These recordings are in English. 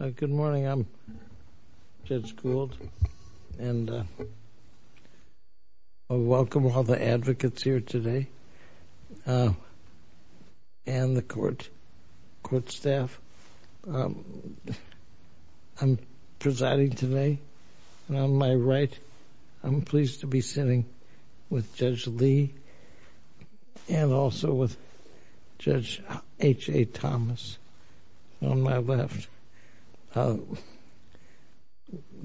Good morning, I'm Judge Gould, and I welcome all the advocates here today, and the court, court staff. I'm presiding today, and on my right, I'm pleased to be sitting with Judge Lee, and also with Judge H.A. Thomas on my left. There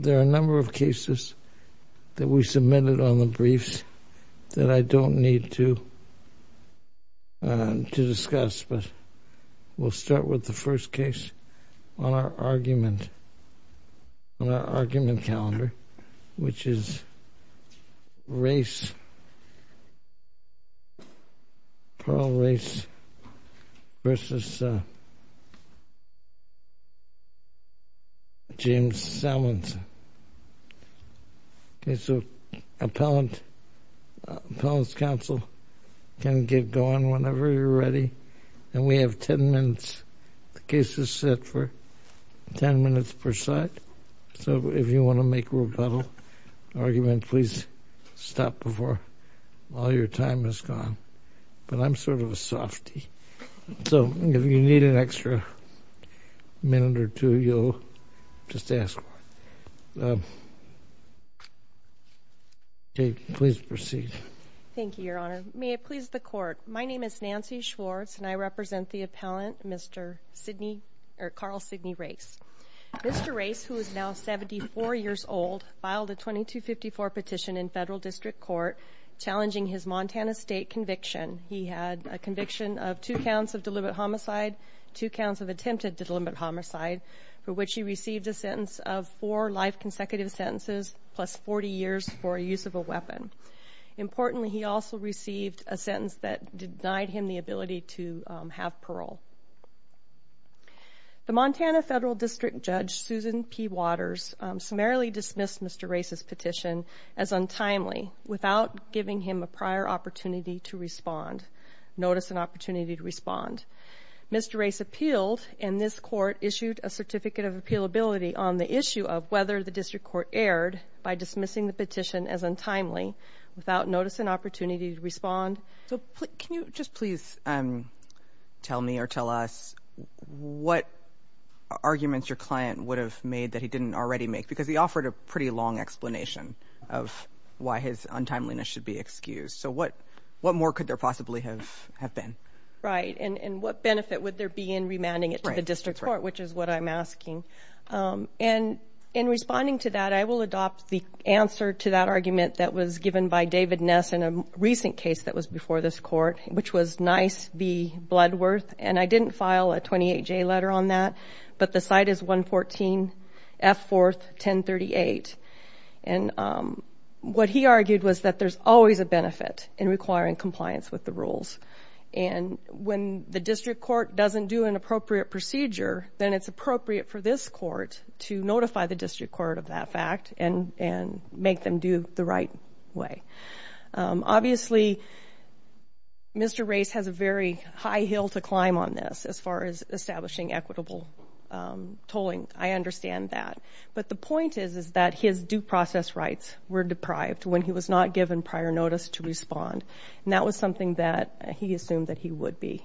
are a number of cases that we submitted on the briefs that I don't need to discuss, but we'll start with the first case on our argument, on our argument calendar, which is Race, Pearl Race v. James The case is set for 10 minutes per side, so if you want to make a rebuttal argument, please stop before all your time has gone. But I'm sort of a softy, so if you need an extra minute or two, you'll just ask for it. Okay, please proceed. Thank you, Your Honor. May it please the Court, my name is Nancy Schwartz, and I represent the appellant, Mr. Sidney, or Carl Sidney Race. Mr. Race, who is now 74 years old, filed a 2254 petition in Federal District Court, challenging his Montana State conviction. He had a conviction of two counts of deliberate homicide, two counts of attempted deliberate homicide, for which he received a sentence of four life consecutive sentences, plus 40 years for use of a weapon. Importantly, he also received a sentence that denied him the ability to have parole. The Montana Federal District Judge, Susan P. Waters, summarily dismissed Mr. Race's petition as untimely, without giving him a prior opportunity to respond, Mr. Race appealed, and this Court issued a certificate of appealability on the issue of whether the District Court erred by dismissing the petition as untimely, without notice and opportunity to respond. So, can you just please tell me or tell us what arguments your client would have made that he didn't already make? Because he offered a pretty long explanation of why his untimeliness should be excused, so what more could there possibly have been? Right, and what benefit would there be in remanding it to the District Court, which is what I'm asking. And in responding to that, I will adopt the answer to that argument that was given by David Ness in a recent case that was before this Court, which was NICE v. Bloodworth, and I didn't file a 28-J letter on that, but the site is 114 F. 4th, 1038. And what he argued was that there's always a benefit in requiring compliance with the rules. And when the District Court doesn't do an appropriate procedure, then it's appropriate for this Court to notify the District Court of that fact and make them do the right way. Obviously, Mr. Race has a very high hill to climb on this as far as establishing equitable tolling. I understand that. But the point is, is that his due process rights were deprived when he was not given prior notice to respond. And that was something that he assumed that he would be.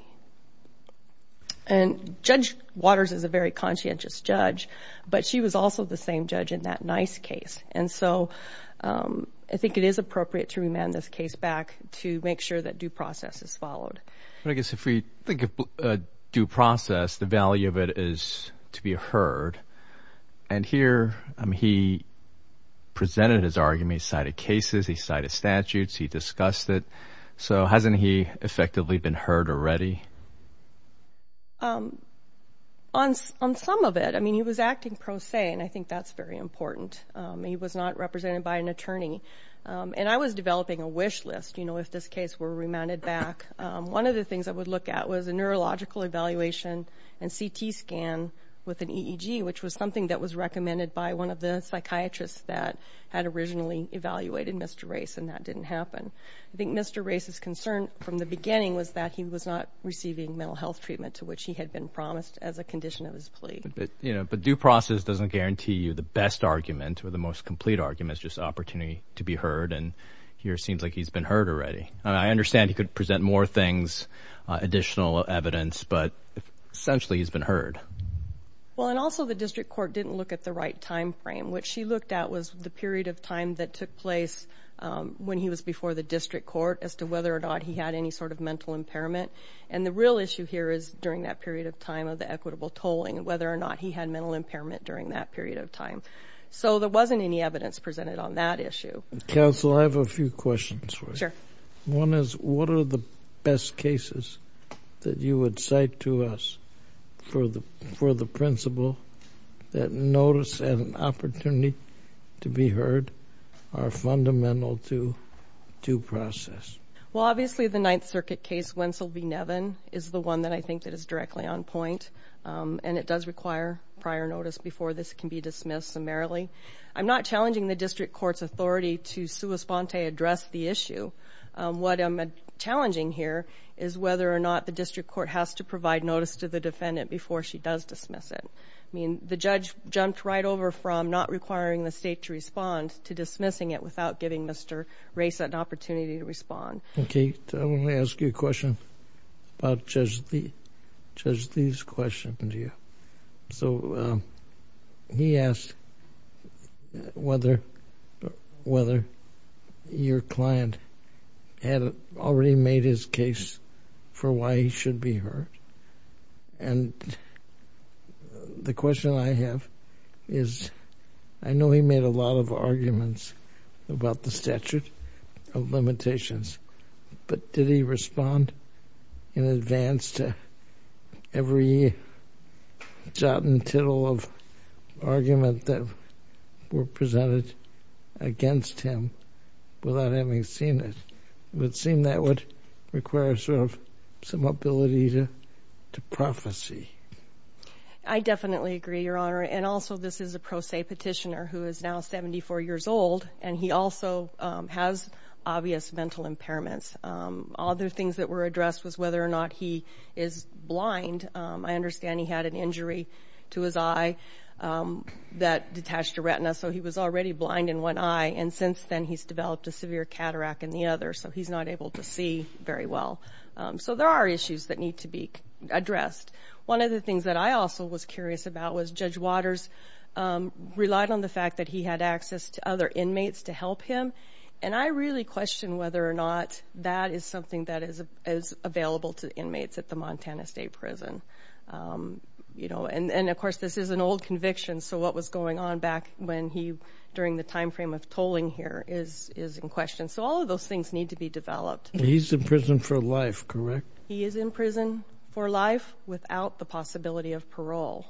And Judge Waters is a very conscientious judge, but she was also the same judge in that NICE case. And so I think it is appropriate to remand this case back to make sure that due process is followed. But I guess if we think of due process, the value of it is to be heard. And here he presented his argument, he cited cases, he cited statutes, he discussed it. So hasn't he effectively been heard already? On some of it. I mean, he was acting pro se, and I think that's very important. He was not represented by an attorney. And I was developing a wish list, you know, if this case were remanded back. One of the things I would look at was a neurological evaluation and CT scan with an EEG, which was something that was recommended by one of the psychiatrists that had originally evaluated Mr. Race, and that didn't happen. I think Mr. Race's concern from the beginning was that he was not receiving mental health treatment to which he had been promised as a condition of his plea. But due process doesn't guarantee you the best argument or the most complete argument, it's just opportunity to be heard. And here it seems like he's been heard already. I understand he could present more things, additional evidence, but essentially he's been heard. Well, and also the district court didn't look at the right time frame. What she looked at was the period of time that took place when he was before the district court as to whether or not he had any sort of mental impairment. And the real issue here is during that period of time of the equitable tolling, whether or not he had mental impairment during that period of time. So there wasn't any evidence presented on that issue. Counsel, I have a few questions. Sure. One is, what are the best cases that you would cite to us for the principle that notice and opportunity to be heard are fundamental to due process? Well, obviously the Ninth Circuit case, Wensel v. Nevin, is the one that I think that is directly on point, and it does require prior notice before this can be dismissed summarily. I'm not challenging the district court's authority to sua sponte address the issue. What I'm challenging here is whether or not the district court has to provide notice to the defendant before she does dismiss it. I mean, the judge jumped right over from not requiring the state to respond to dismissing it without giving Mr. Race an opportunity to respond. Okay, I want to ask you a question about Judge Lee's question to you. So he asked whether your client had already made his case for why he should be heard. And the question I have is, I know he made a lot of arguments about the statute of limitations, but did he respond in advance to every jot and tittle of argument that were presented against him without having seen it? It would seem that would require sort of some ability to prophecy. I definitely agree, Your Honor. And also, this is a pro se petitioner who is now 74 years old, and he also has obvious mental impairments. Other things that were addressed was whether or not he is blind. I understand he had an injury to his eye that detached a retina, so he was already blind in one eye. And since then, he's developed a severe cataract in the other, so he's not able to see very well. So there are issues that need to be addressed. One of the things that I also was curious about was Judge Waters relied on the fact that he had access to other inmates to help him. And I really question whether or not that is something that is available to inmates at the Montana State Prison. And of course, this is an old conviction, so what was going on back when he, during the time frame of tolling here, is in question. So all of those things need to be developed. He's in prison for life, correct? He is in prison for life without the possibility of parole.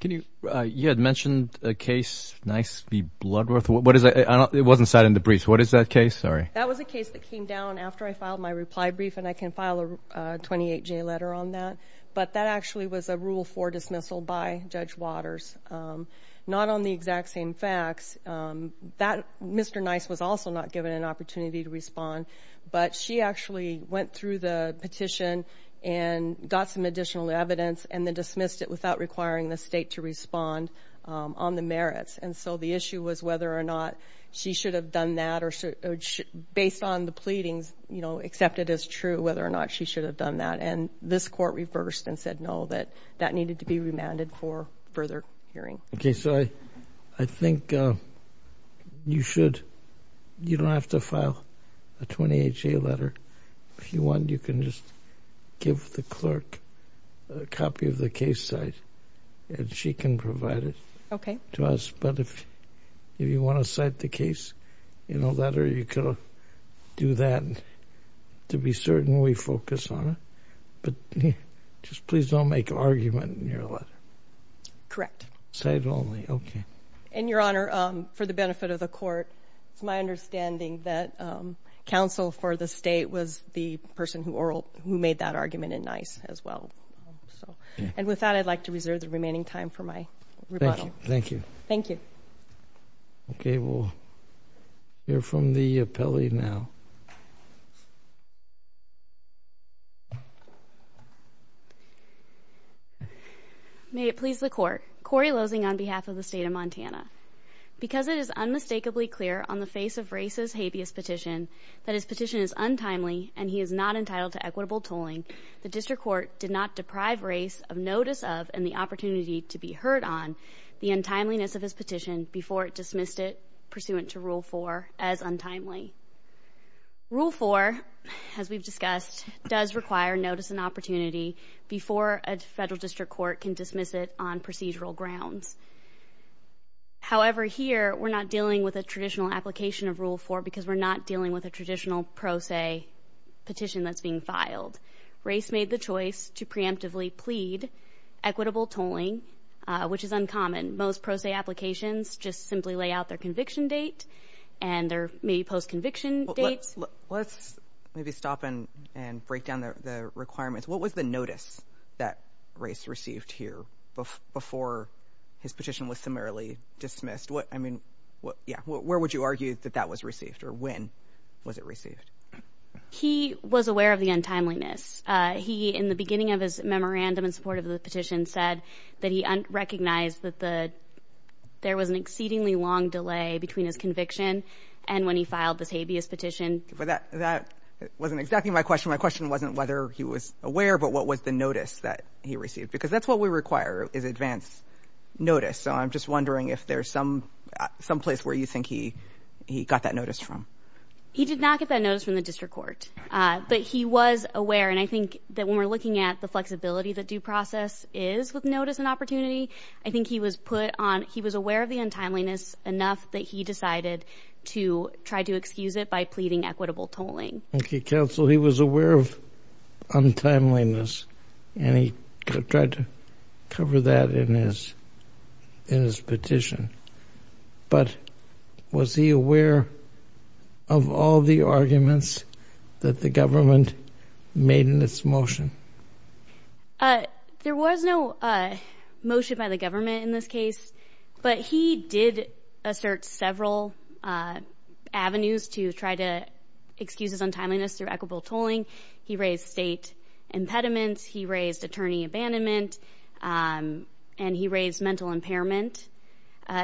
Can you, you had mentioned a case, Nice v. Bloodworth, what is that, it wasn't cited in the brief, what is that case, sorry? That was a case that came down after I filed my reply brief, and I can file a 28-J letter on that. But that actually was a rule for dismissal by Judge Waters. Not on the exact same facts, Mr. Nice was also not given an opportunity to respond. But she actually went through the petition and got some additional evidence, and then dismissed it without requiring the state to respond on the merits. And so the issue was whether or not she should have done that, or based on the pleadings, accept it as true whether or not she should have done that. And this court reversed and said no, that that needed to be remanded for further hearing. Okay, so I think you should, you don't have to file a 28-J letter. If you want, you can just give the clerk a copy of the case site, and she can provide it to us. But if you want to cite the case in a letter, you could do that. To be certain, we focus on it. But just please don't make argument in your letter. Correct. State only, okay. In your honor, for the benefit of the court, it's my understanding that counsel for the state was the person who made that argument in Nice as well. And with that, I'd like to reserve the remaining time for my rebuttal. Thank you. Thank you. Okay, we'll hear from the appellee now. May it please the court. Corey Losing on behalf of the state of Montana. Because it is unmistakably clear on the face of race's habeas petition, that his petition is untimely and he is not entitled to equitable tolling, the district court did not deprive race of notice of and the opportunity to be heard on the untimeliness of his petition before it dismissed it pursuant to rule four as untimely. Rule four, as we've discussed, does require notice and opportunity before a federal district court can dismiss it on procedural grounds. However, here, we're not dealing with a traditional application of rule four, because we're not dealing with a traditional pro se petition that's being filed. Race made the choice to preemptively plead equitable tolling, which is uncommon. Most pro se applications just simply lay out their conviction date and their maybe post conviction dates. Let's maybe stop and break down the requirements. What was the notice that race received here before his petition was summarily dismissed? I mean, yeah, where would you argue that that was received or when was it received? He was aware of the untimeliness. He, in the beginning of his memorandum in support of the petition, said that he recognized that there was an exceedingly long delay between his conviction. And when he filed this habeas petition. But that wasn't exactly my question. My question wasn't whether he was aware, but what was the notice that he received? Because that's what we require, is advance notice. So I'm just wondering if there's some place where you think he got that notice from. He did not get that notice from the district court, but he was aware. And I think that when we're looking at the flexibility that due process is with notice and I think he was put on, he was aware of the untimeliness enough that he decided to try to excuse it by pleading equitable tolling. Okay, counsel, he was aware of untimeliness. And he tried to cover that in his petition. But was he aware of all the arguments that the government made in its motion? There was no motion by the government in this case. But he did assert several avenues to try to excuse his untimeliness through equitable tolling. He raised state impediments, he raised attorney abandonment, and he raised mental impairment.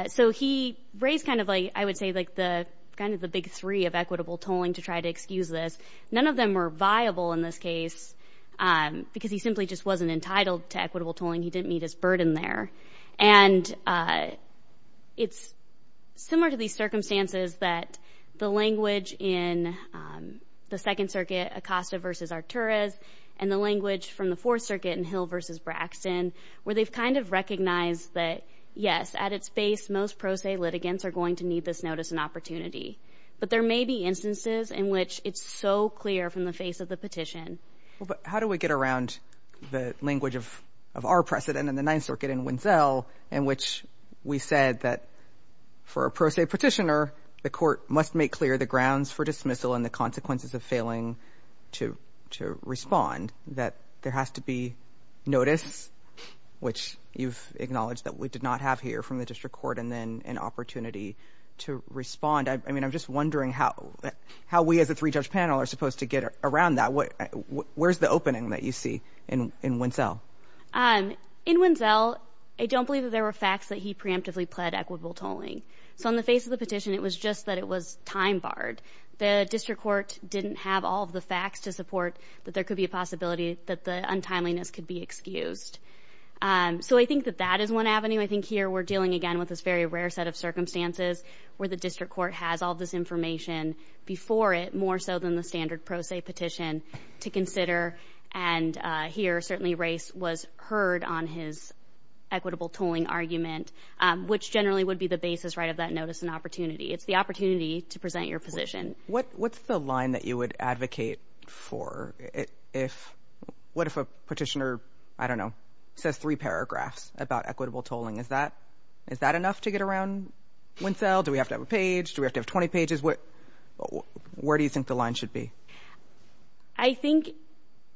So he raised kind of like, I would say, like the kind of the big three of equitable tolling to try to excuse this. None of them were viable in this case, because he simply just wasn't entitled to equitable tolling, he didn't meet his burden there. And it's similar to these circumstances that the language in the Second Circuit, Acosta versus Arturas, and the language from the Fourth Circuit in Hill versus Braxton, where they've kind of recognized that, yes, at its base, most pro se litigants are going to need this notice and opportunity. But there may be instances in which it's so clear from the face of the petition. But how do we get around the language of our precedent in the Ninth Circuit in Wenzel, in which we said that for a pro se petitioner, the court must make clear the grounds for dismissal and the consequences of failing to respond. That there has to be notice, which you've acknowledged that we did not have here from the district court, and then an opportunity to respond. I mean, I'm just wondering how we as a three-judge panel are supposed to get around that, where's the opening that you see in Wenzel? In Wenzel, I don't believe that there were facts that he preemptively pled equitable tolling. So in the face of the petition, it was just that it was time barred. The district court didn't have all of the facts to support that there could be a possibility that the untimeliness could be excused. So I think that that is one avenue. I think here we're dealing again with this very rare set of circumstances where the district court has all this information before it, more so than the standard pro se petition, to consider. And here, certainly, race was heard on his equitable tolling argument, which generally would be the basis, right, of that notice and opportunity. It's the opportunity to present your position. What's the line that you would advocate for if, what if a petitioner, I don't know, says three paragraphs about equitable tolling? Is that enough to get around Wenzel? Do we have to have a page? Do we have to have 20 pages? Where do you think the line should be? I think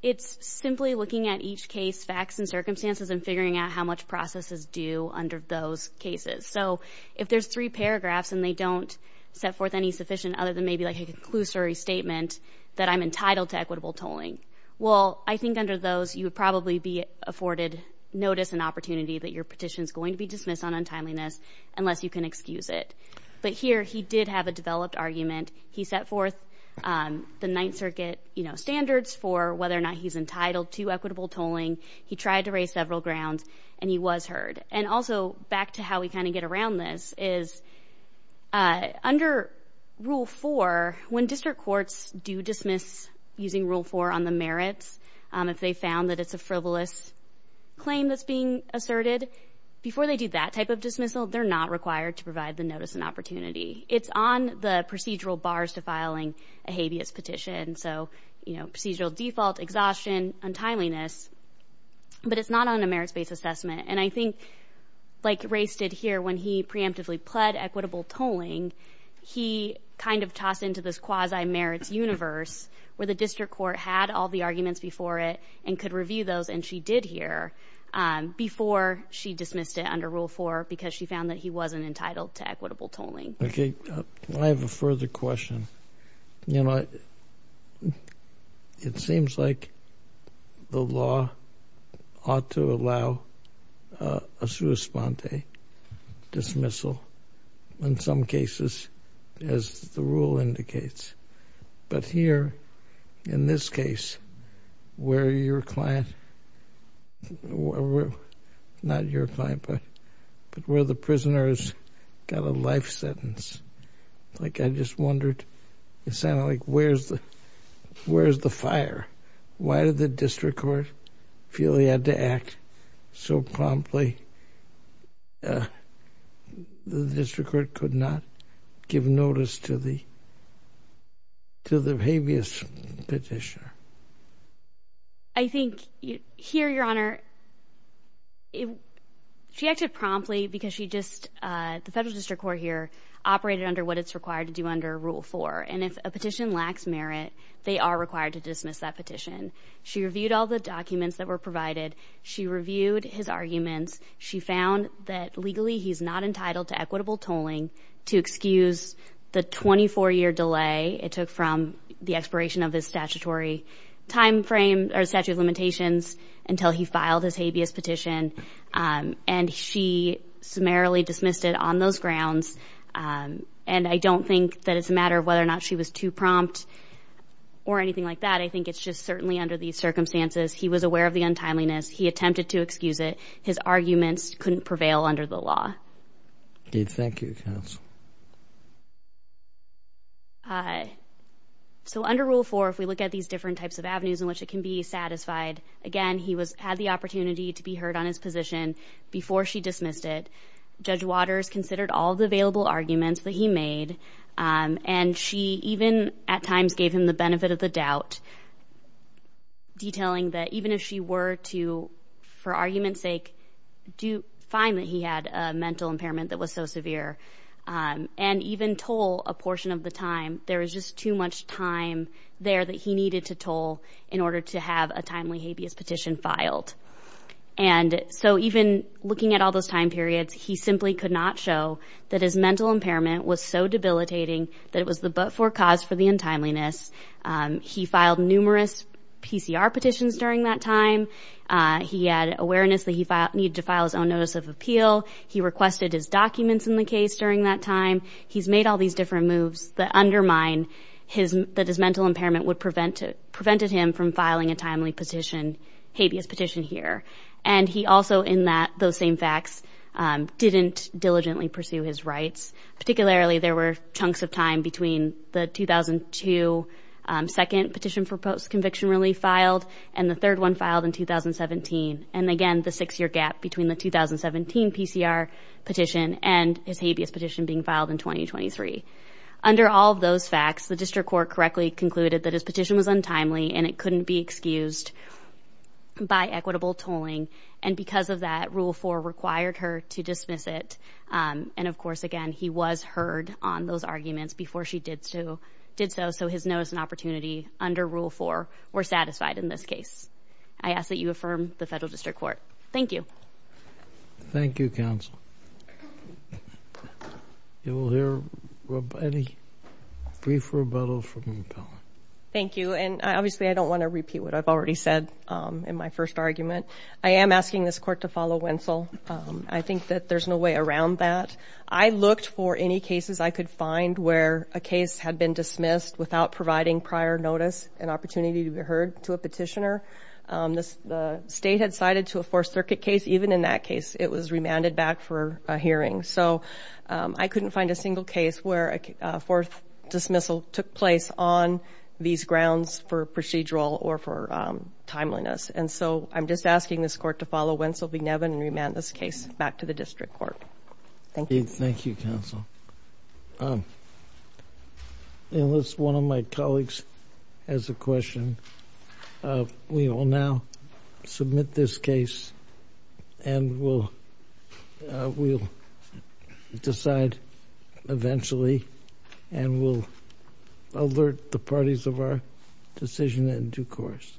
it's simply looking at each case facts and circumstances and figuring out how much process is due under those cases. So if there's three paragraphs and they don't set forth any sufficient other than maybe like a conclusory statement that I'm entitled to equitable tolling. Well, I think under those, you would probably be afforded notice and opportunity that your petition's going to be dismissed on untimeliness, unless you can excuse it. But here, he did have a developed argument. He set forth the Ninth Circuit standards for whether or not he's entitled to equitable tolling. He tried to raise several grounds, and he was heard. And also, back to how we kind of get around this is, under rule four, when district courts do dismiss using rule four on the merits, if they found that it's a frivolous claim that's being asserted, before they do that type of dismissal, they're not required to provide the notice and opportunity. It's on the procedural bars to filing a habeas petition. So procedural default, exhaustion, untimeliness, but it's not on a merits-based assessment. And I think, like Ray said here, when he preemptively pled equitable tolling, he kind of tossed into this quasi-merits universe, where the district court had all the arguments before it, and could review those. And she did hear, before she dismissed it under rule four, because she found that he wasn't entitled to equitable tolling. Okay, I have a further question. It seems like the law ought to allow a sua sponte dismissal. In some cases, as the rule indicates. But here, in this case, where your client, not your client, but where the prisoner's got a life sentence. Like I just wondered, it sounded like, where's the fire? Why did the district court feel he had to act so promptly? The district court could not give notice to the habeas petitioner. I think here, your honor, she acted promptly because she just, the federal district court here, operated under what it's required to do under rule four, and if a petition lacks merit, they are required to dismiss that petition. She reviewed all the documents that were provided. She reviewed his arguments. She found that legally he's not entitled to equitable tolling to excuse the 24 year delay it took from the expiration of his statutory time frame, or statute of limitations, until he filed his habeas petition. And she summarily dismissed it on those grounds. And I don't think that it's a matter of whether or not she was too prompt or anything like that. I think it's just certainly under these circumstances, he was aware of the untimeliness. He attempted to excuse it. His arguments couldn't prevail under the law. Thank you, counsel. So under rule four, if we look at these different types of avenues in which it can be satisfied, again, he had the opportunity to be heard on his position before she dismissed it. Judge Waters considered all the available arguments that he made, and she even at times gave him the benefit of the doubt. Detailing that even if she were to, for argument's sake, do find that he had a mental impairment that was so severe. And even toll a portion of the time, there was just too much time there that he needed to toll in order to have a timely habeas petition filed. And so even looking at all those time periods, he simply could not show that his mental impairment was so debilitating that it was the but for cause for the untimeliness. He filed numerous PCR petitions during that time. He had awareness that he needed to file his own notice of appeal. He requested his documents in the case during that time. He's made all these different moves that undermine that his mental impairment would prevent him from filing a timely petition, habeas petition here. And he also in that, those same facts, didn't diligently pursue his rights. Particularly, there were chunks of time between the 2002 second petition for post-conviction relief filed and the third one filed in 2017. And again, the six-year gap between the 2017 PCR petition and his habeas petition being filed in 2023. Under all of those facts, the district court correctly concluded that his petition was untimely and it couldn't be excused by equitable tolling. And because of that, Rule 4 required her to dismiss it. And of course, again, he was heard on those arguments before she did so. So his notice and opportunity under Rule 4 were satisfied in this case. I ask that you affirm the federal district court. Thank you. Thank you, counsel. You will hear any brief rebuttal from the panel. Thank you. And obviously, I don't want to repeat what I've already said in my first argument. I am asking this court to follow Winsell. I think that there's no way around that. I looked for any cases I could find where a case had been dismissed without providing prior notice and opportunity to be heard to a petitioner. The state had cited to a Fourth Circuit case. Even in that case, it was remanded back for a hearing. So I couldn't find a single case where a fourth dismissal took place on these grounds for procedural or for timeliness. And so I'm just asking this court to follow Winsell v. Nevin and remand this case back to the district court. Thank you. Thank you, counsel. Unless one of my colleagues has a question, we will now submit this case and we'll decide eventually and we'll alert the parties of our decision in due course.